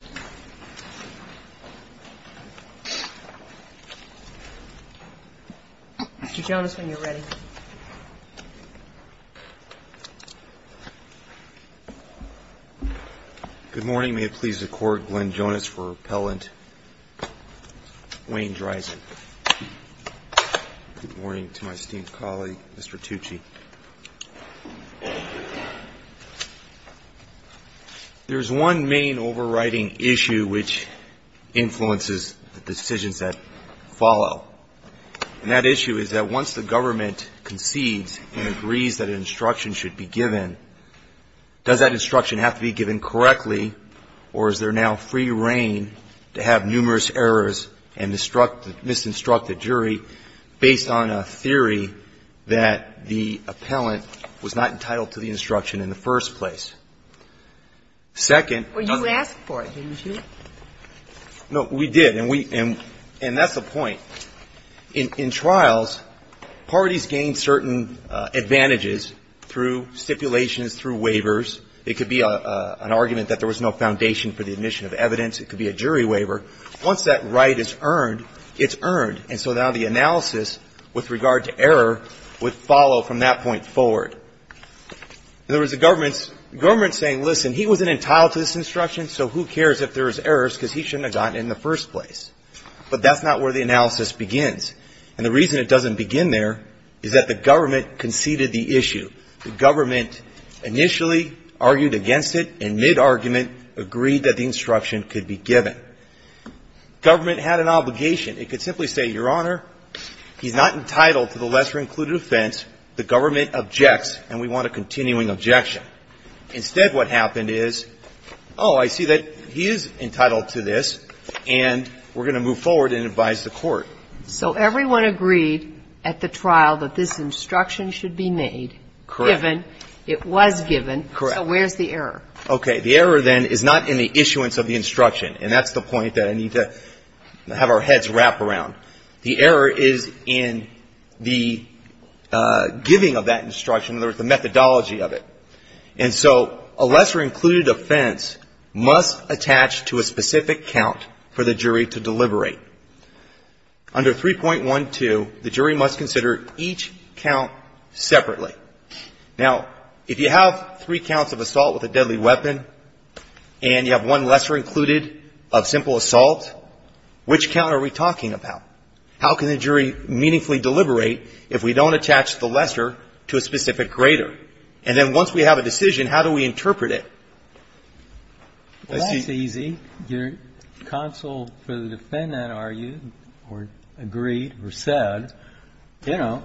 Good morning, may it please the court, Glenn Jonas for repellent, Wayne Drizin. Good morning to my esteemed colleague, Mr. Tucci. There is one main overriding issue which influences the decisions that follow, and that issue is that once the government concedes and agrees that an instruction should be given, does that instruction have to be given correctly or is there now free reign to have numerous errors and misinstruct the jury based on a theory that the appellant was not entitled to the instruction in the first place? Second doesn't Well, you asked for it, didn't you? No, we did, and we and that's the point. In trials, parties gain certain advantages through stipulations, through waivers. It could be an argument that there was no foundation for the admission of evidence. It could be a jury waiver. Once that right is earned, it's earned, and so now the analysis with regard to error would follow from that point forward. There was a government saying, listen, he wasn't entitled to this instruction, so who cares if there was errors because he shouldn't have gotten it in the first place. But that's not where the analysis begins, and the reason it doesn't begin there is that the government conceded the issue. The government initially argued against it and, mid-argument, agreed that the instruction could be given. The government had an obligation. It could simply say, Your Honor, he's not entitled to the lesser-included offense. The government objects, and we want a continuing objection. Instead, what happened is, oh, I see that he is entitled to this, and we're going to move forward and advise the court. So everyone agreed at the trial that this instruction should be made, given, it was given, so where's the error? Okay. The error, then, is not in the issuance of the instruction, and that's the point that I need to have our heads wrap around. The error is in the giving of that instruction, in other words, the methodology of it. And so a lesser-included offense must attach to a specific count for the jury to deliberate. Under 3.12, the jury must consider each count as a simple, deadly weapon, and you have one lesser-included of simple assault. Which count are we talking about? How can the jury meaningfully deliberate if we don't attach the lesser to a specific greater? And then once we have a decision, how do we interpret it? Well, that's easy. Your counsel for the defendant argued or agreed or said, you know,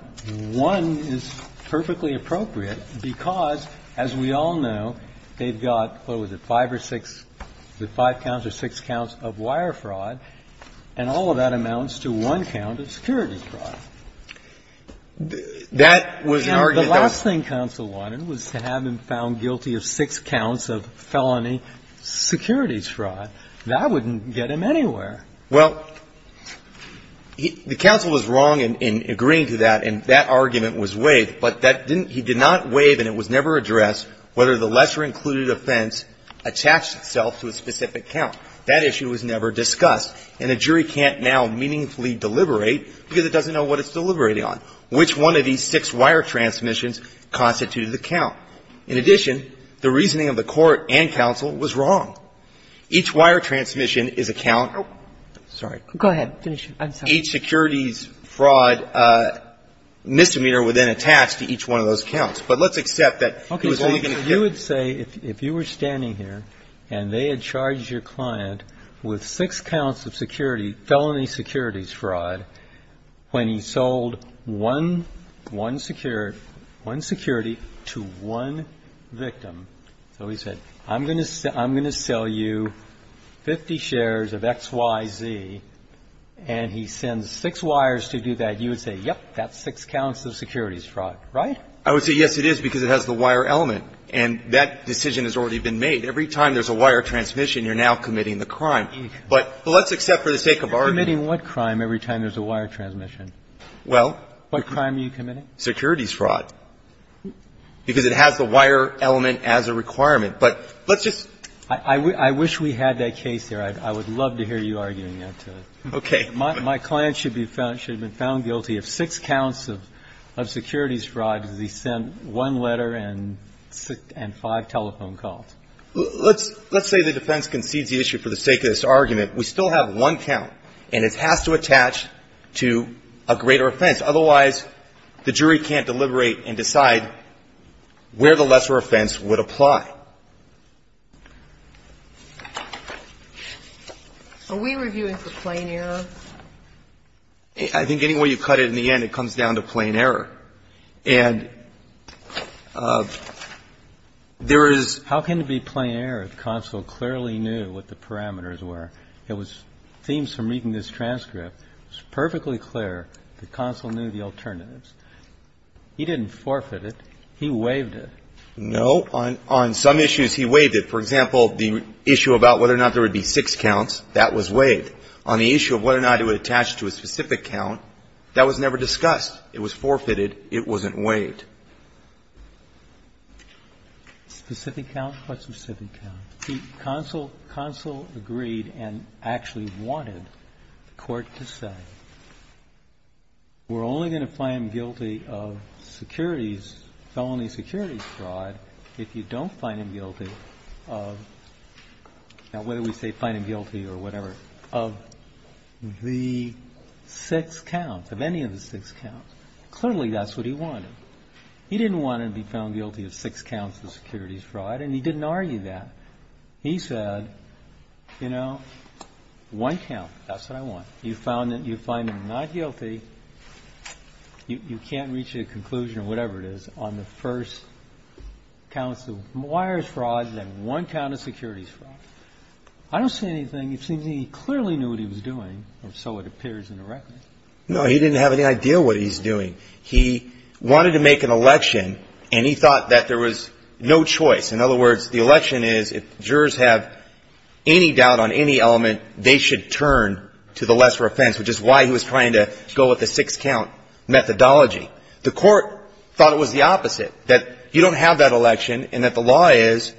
one is perfectly appropriate because, as we all know, they've got, what was it, five or six or five counts or six counts of wire fraud, and all of that amounts to one count of securities fraud. That was an argument that was to have him found guilty of six counts of felony securities fraud. That wouldn't get him anywhere. Well, the counsel was wrong in agreeing to that in 3.12, and I don't think that's a valid argument. I think that argument was waived, but that didn't – he did not waive and it was never addressed whether the lesser-included offense attached itself to a specific count. That issue was never discussed, and the jury can't now meaningfully deliberate because it doesn't know what it's deliberating on, which one of these six wire transmissions constituted the count. In addition, the reasoning of the Court and counsel was wrong. Each wire transmission is a count of – sorry. Go ahead. Finish. I'm sorry. Eight securities fraud misdemeanor were then attached to each one of those counts, but let's accept that it was only going to – Okay. So you would say if you were standing here and they had charged your client with six counts of security – felony securities fraud when he sold one security to one victim, so he said, I'm going to sell you 50 shares of XYZ, and he said, he sends six wires to do that, you would say, yep, that's six counts of securities fraud, right? I would say, yes, it is, because it has the wire element. And that decision has already been made. Every time there's a wire transmission, you're now committing the crime. But let's accept for the sake of argument – You're committing what crime every time there's a wire transmission? Well – What crime are you committing? Securities fraud. Because it has the wire element as a requirement. But let's just – I wish we had that case there. I would love to hear you arguing that. Okay. My client should be found guilty of six counts of securities fraud because he sent one letter and five telephone calls. Let's say the defense concedes the issue for the sake of this argument. We still have one count, and it has to attach to a greater offense. Otherwise, the jury can't deliberate and decide where the lesser offense would apply. Are we reviewing for plain error? I think any way you cut it, in the end, it comes down to plain error. And there is – How can it be plain error if the consul clearly knew what the parameters were? It was – it seems from reading this transcript, it's perfectly clear the consul knew the alternatives. He didn't forfeit it. He waived it. No. On some issues, he waived it. For example, the issue about whether or not there would be six counts, that was waived. On the issue of whether or not it would attach to a specific count, that was never discussed. It was forfeited. It wasn't waived. Specific count? What specific count? The consul agreed and actually wanted the Court to say, we're only going to find him guilty of securities, felony securities fraud, if you don't find him guilty of – now, whether we say find him guilty or whatever – of the six counts, of any of the six counts. Clearly, that's what he wanted. He didn't want to be found guilty of six counts of securities fraud, and he didn't argue that. He said, you know, one count, that's what I want. You found him not guilty. You can't reach a conclusion or whatever it is on the first counts of wires fraud and then one count of securities fraud. I don't see anything. It seems he clearly knew what he was doing, or so it appears in the record. No. He didn't have any idea what he's doing. He wanted to make an election, and he thought that there was no choice. In other words, the election is, if jurors have any doubt on any element, they should turn to the lesser offense, which is why he was trying to go with the six count methodology. The court thought it was the opposite, that you don't have that election and that the law is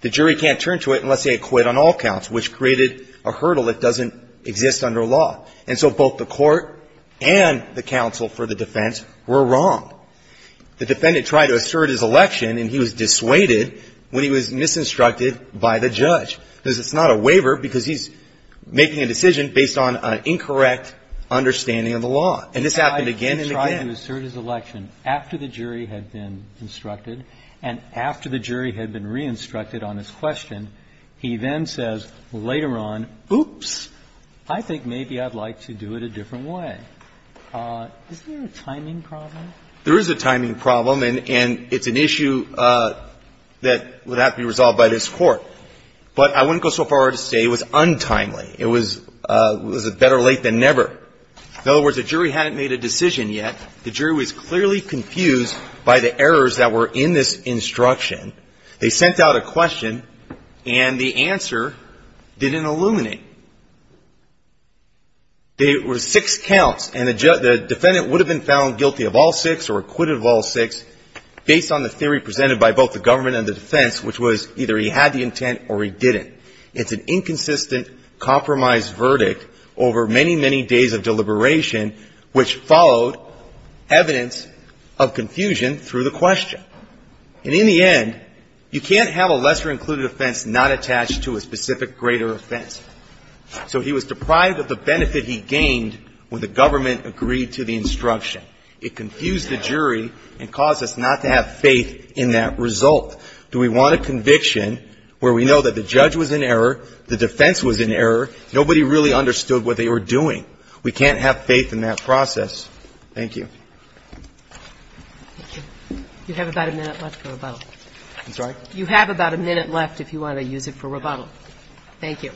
the jury can't turn to it unless they acquit on all counts, which created a hurdle that doesn't exist under law. And so both the court and the counsel for the defense were wrong. The defendant tried to assert his election, and he was dissuaded when he was based on an incorrect understanding of the law. And this happened again and again. I tried to assert his election after the jury had been instructed and after the jury had been re-instructed on his question. He then says later on, oops, I think maybe I'd like to do it a different way. Is there a timing problem? There is a timing problem, and it's an issue that would have to be resolved by this Court. But I wouldn't go so far as to say it was untimely. It was better late than never. In other words, the jury hadn't made a decision yet. The jury was clearly confused by the errors that were in this instruction. They sent out a question, and the answer didn't illuminate. There were six counts, and the defendant would have been found guilty of all six or acquitted of all six based on the theory presented by both the government and the defense, which was either he had the intent or he didn't. It's an inconsistent compromise verdict over many, many days of deliberation, which followed evidence of confusion through the question. And in the end, you can't have a lesser-included offense not attached to a specific greater offense. So he was deprived of the benefit he gained when the government agreed to the instruction. It confused the jury and caused us not to have faith in that result. Do we want a conviction where we know that the judge was in error, the defense was in error, nobody really understood what they were doing? We can't have faith in that process. Thank you. Thank you. You have about a minute left for rebuttal. I'm sorry? You have about a minute left if you want to use it for rebuttal. Thank you.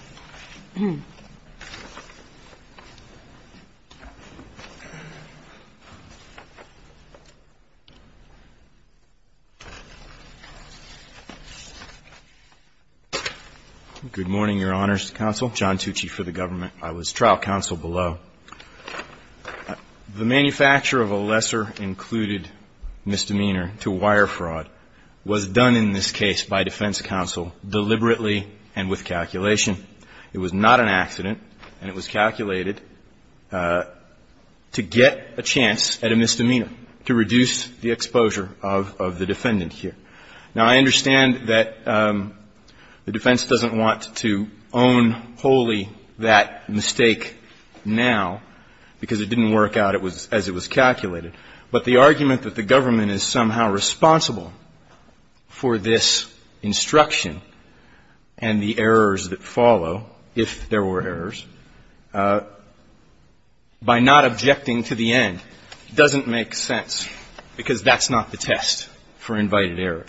Good morning, Your Honors, Counsel. John Tucci for the government. I was trial counsel below. The manufacture of a lesser-included misdemeanor to wire fraud was done in this case by defense counsel deliberately and with calculation. It was not an accident, and it was calculated to get a chance at a misdemeanor, to reduce the exposure of the defendant here. Now, I understand that the defense doesn't want to own wholly that mistake now, because it didn't work out as it was calculated. But the argument that the government is somehow responsible for this instruction and the errors that follow, if there were errors, by not objecting to the end doesn't make sense, because that's not the test for invited error.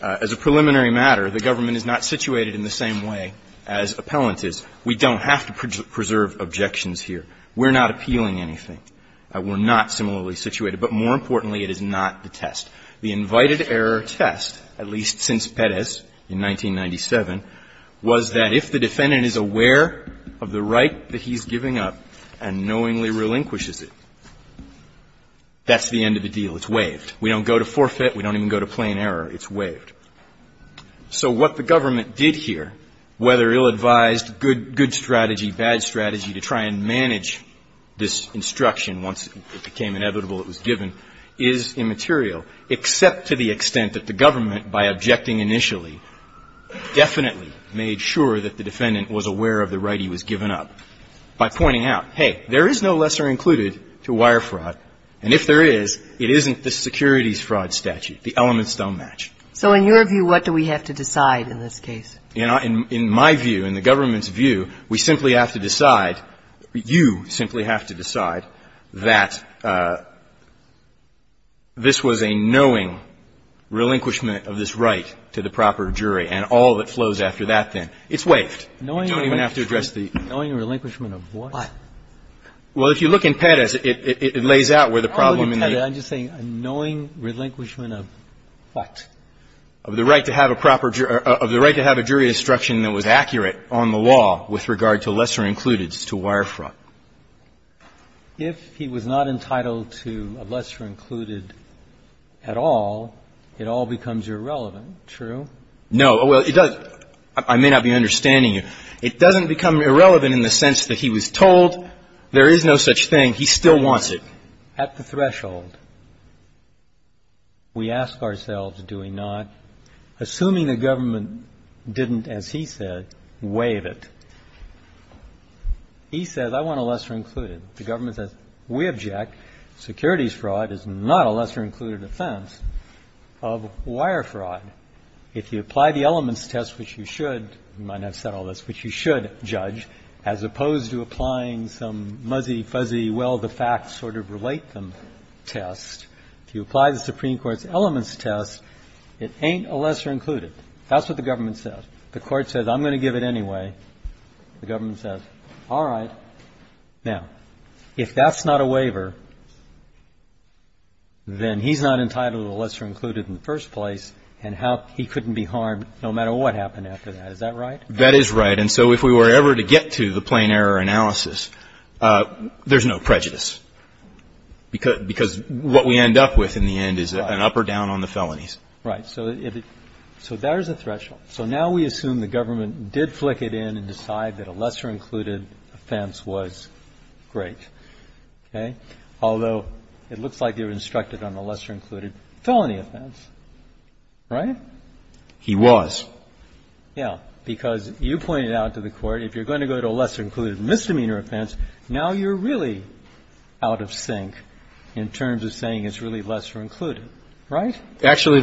As a preliminary matter, the government is not situated in the same way as appellant is. We don't have to preserve objections here. We're not appealing anything. We're not similarly situated. But more importantly, it is not the test. The invited error test, at least since Pettis in 1997, was that if the defendant is aware of the right that he's giving up and knowingly relinquishes it, that's the end of the deal. It's waived. We don't go to forfeit. We don't even go to plain error. It's waived. So what the government did here, whether ill-advised, good strategy, bad strategy, to try and manage this instruction once it became inevitable it was given, is immaterial, except to the extent that the government, by objecting initially, definitely made sure that the defendant was aware of the right he was giving up by pointing out, hey, there is no lesser included to wire fraud. And if there is, it isn't the securities fraud statute. The elements don't match. So in your view, what do we have to decide in this case? In my view, in the government's view, we simply have to decide, you simply have to decide that this was a knowing relinquishment of this right to the proper jury and all that flows after that then. It's waived. You don't even have to address the ---- Knowing relinquishment of what? Well, if you look in Pettis, it lays out where the problem in the ---- I'm not looking at Pettis. I'm just saying knowing relinquishment of what? Of the right to have a proper ---- of the right to have a jury instruction that was accurate on the law with regard to lesser included to wire fraud. If he was not entitled to a lesser included at all, it all becomes irrelevant, true? No. Well, it doesn't. I may not be understanding you. It doesn't become irrelevant in the sense that he was told there is no such thing. He still wants it. At the threshold, we ask ourselves, do we not, assuming the government didn't, as he said, waive it, he says, I want a lesser included. The government says, we object. Securities fraud is not a lesser included offense of wire fraud. If you apply the elements test, which you should, you might not have said all this, which you should, Judge, as opposed to applying some muzzy, fuzzy, well, the facts sort of relate them test, if you apply the Supreme Court's elements test, it ain't a lesser included. That's what the government says. The Court says, I'm going to give it anyway. The government says, all right. Now, if that's not a waiver, then he's not entitled to a lesser included in the first place, and he couldn't be harmed no matter what happened after that. Is that right? That is right. And so if we were ever to get to the plain error analysis, there's no prejudice, because what we end up with in the end is an up or down on the felonies. Right. So there's a threshold. So now we assume the government did flick it in and decide that a lesser included offense was great, okay, although it looks like you're instructed on the lesser included felony offense, right? He was. Yeah. Because you pointed out to the Court, if you're going to go to a lesser included misdemeanor offense, now you're really out of sync in terms of saying it's really lesser included, right? Actually,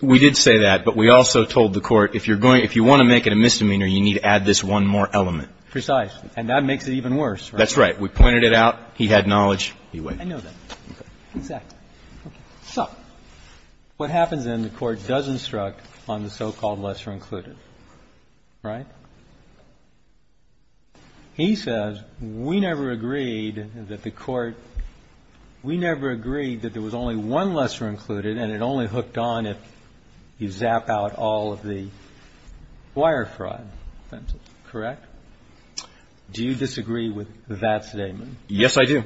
we did say that, but we also told the Court, if you want to make it a misdemeanor, you need to add this one more element. Precisely. And that makes it even worse, right? That's right. We pointed it out. He had knowledge. I know that. Exactly. Okay. So what happens then, the Court does instruct on the so-called lesser included, right? He says, we never agreed that the Court, we never agreed that there was only one lesser included and it only hooked on if you zap out all of the wire fraud offenses, correct? Do you disagree with that statement? Yes, I do.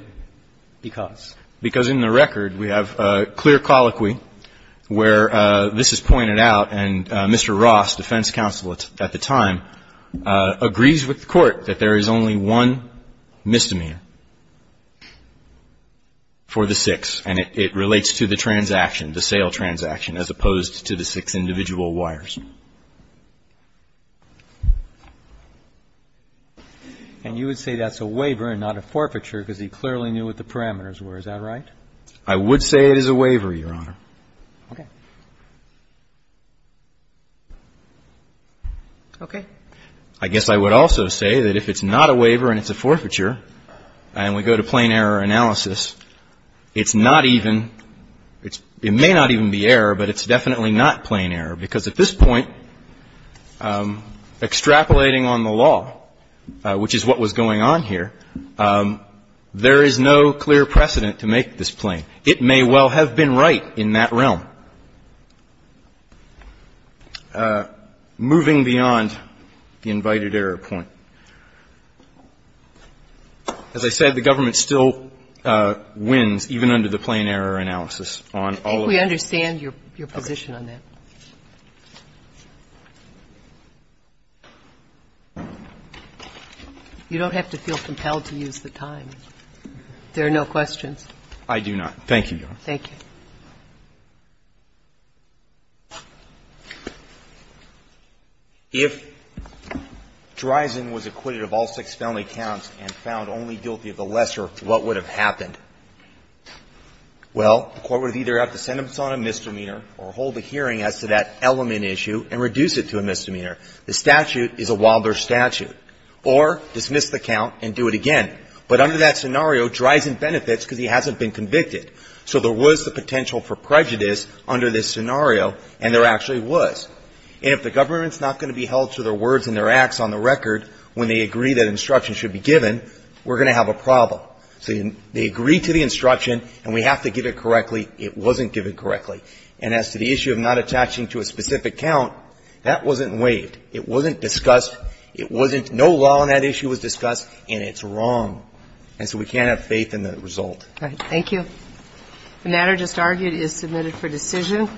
Because? Because in the record, we have a clear colloquy where this is pointed out and Mr. Ross, defense counsel at the time, agrees with the Court that there is only one misdemeanor for the six and it relates to the transaction, the sale transaction, as opposed to the six individual wires. And you would say that's a waiver and not a forfeiture because he clearly knew what the parameters were. Is that right? I would say it is a waiver, Your Honor. Okay. Okay. I guess I would also say that if it's not a waiver and it's a forfeiture and we go to plain error analysis, it's not even, it may not even be error, but it's definitely not plain error because at this point, extrapolating on the law, which is what was going on here, there is no clear precedent to make this plain. It may well have been right in that realm. Moving beyond the invited error point. As I said, the government still wins, even under the plain error analysis on all of those. I think we understand your position on that. You don't have to feel compelled to use the time. There are no questions. I do not. Thank you, Your Honor. Thank you. If Dreisen was acquitted of all six felony counts and found only guilty of the lesser, what would have happened? Well, the court would either have to send him on a misdemeanor or hold a hearing as to that element issue and reduce it to a misdemeanor. The statute is a Wilder statute. Or dismiss the count and do it again. But under that scenario, Dreisen benefits because he hasn't been convicted. So there was the potential for prejudice under this scenario, and there actually was. And if the government's not going to be held to their words and their acts on the record when they agree that instruction should be given, we're going to have a problem. So they agreed to the instruction and we have to give it correctly. It wasn't given correctly. And as to the issue of not attaching to a specific count, that wasn't waived. It wasn't discussed. It wasn't no law on that issue was discussed, and it's wrong. And so we can't have faith in the result. All right. The matter just argued is submitted for decision.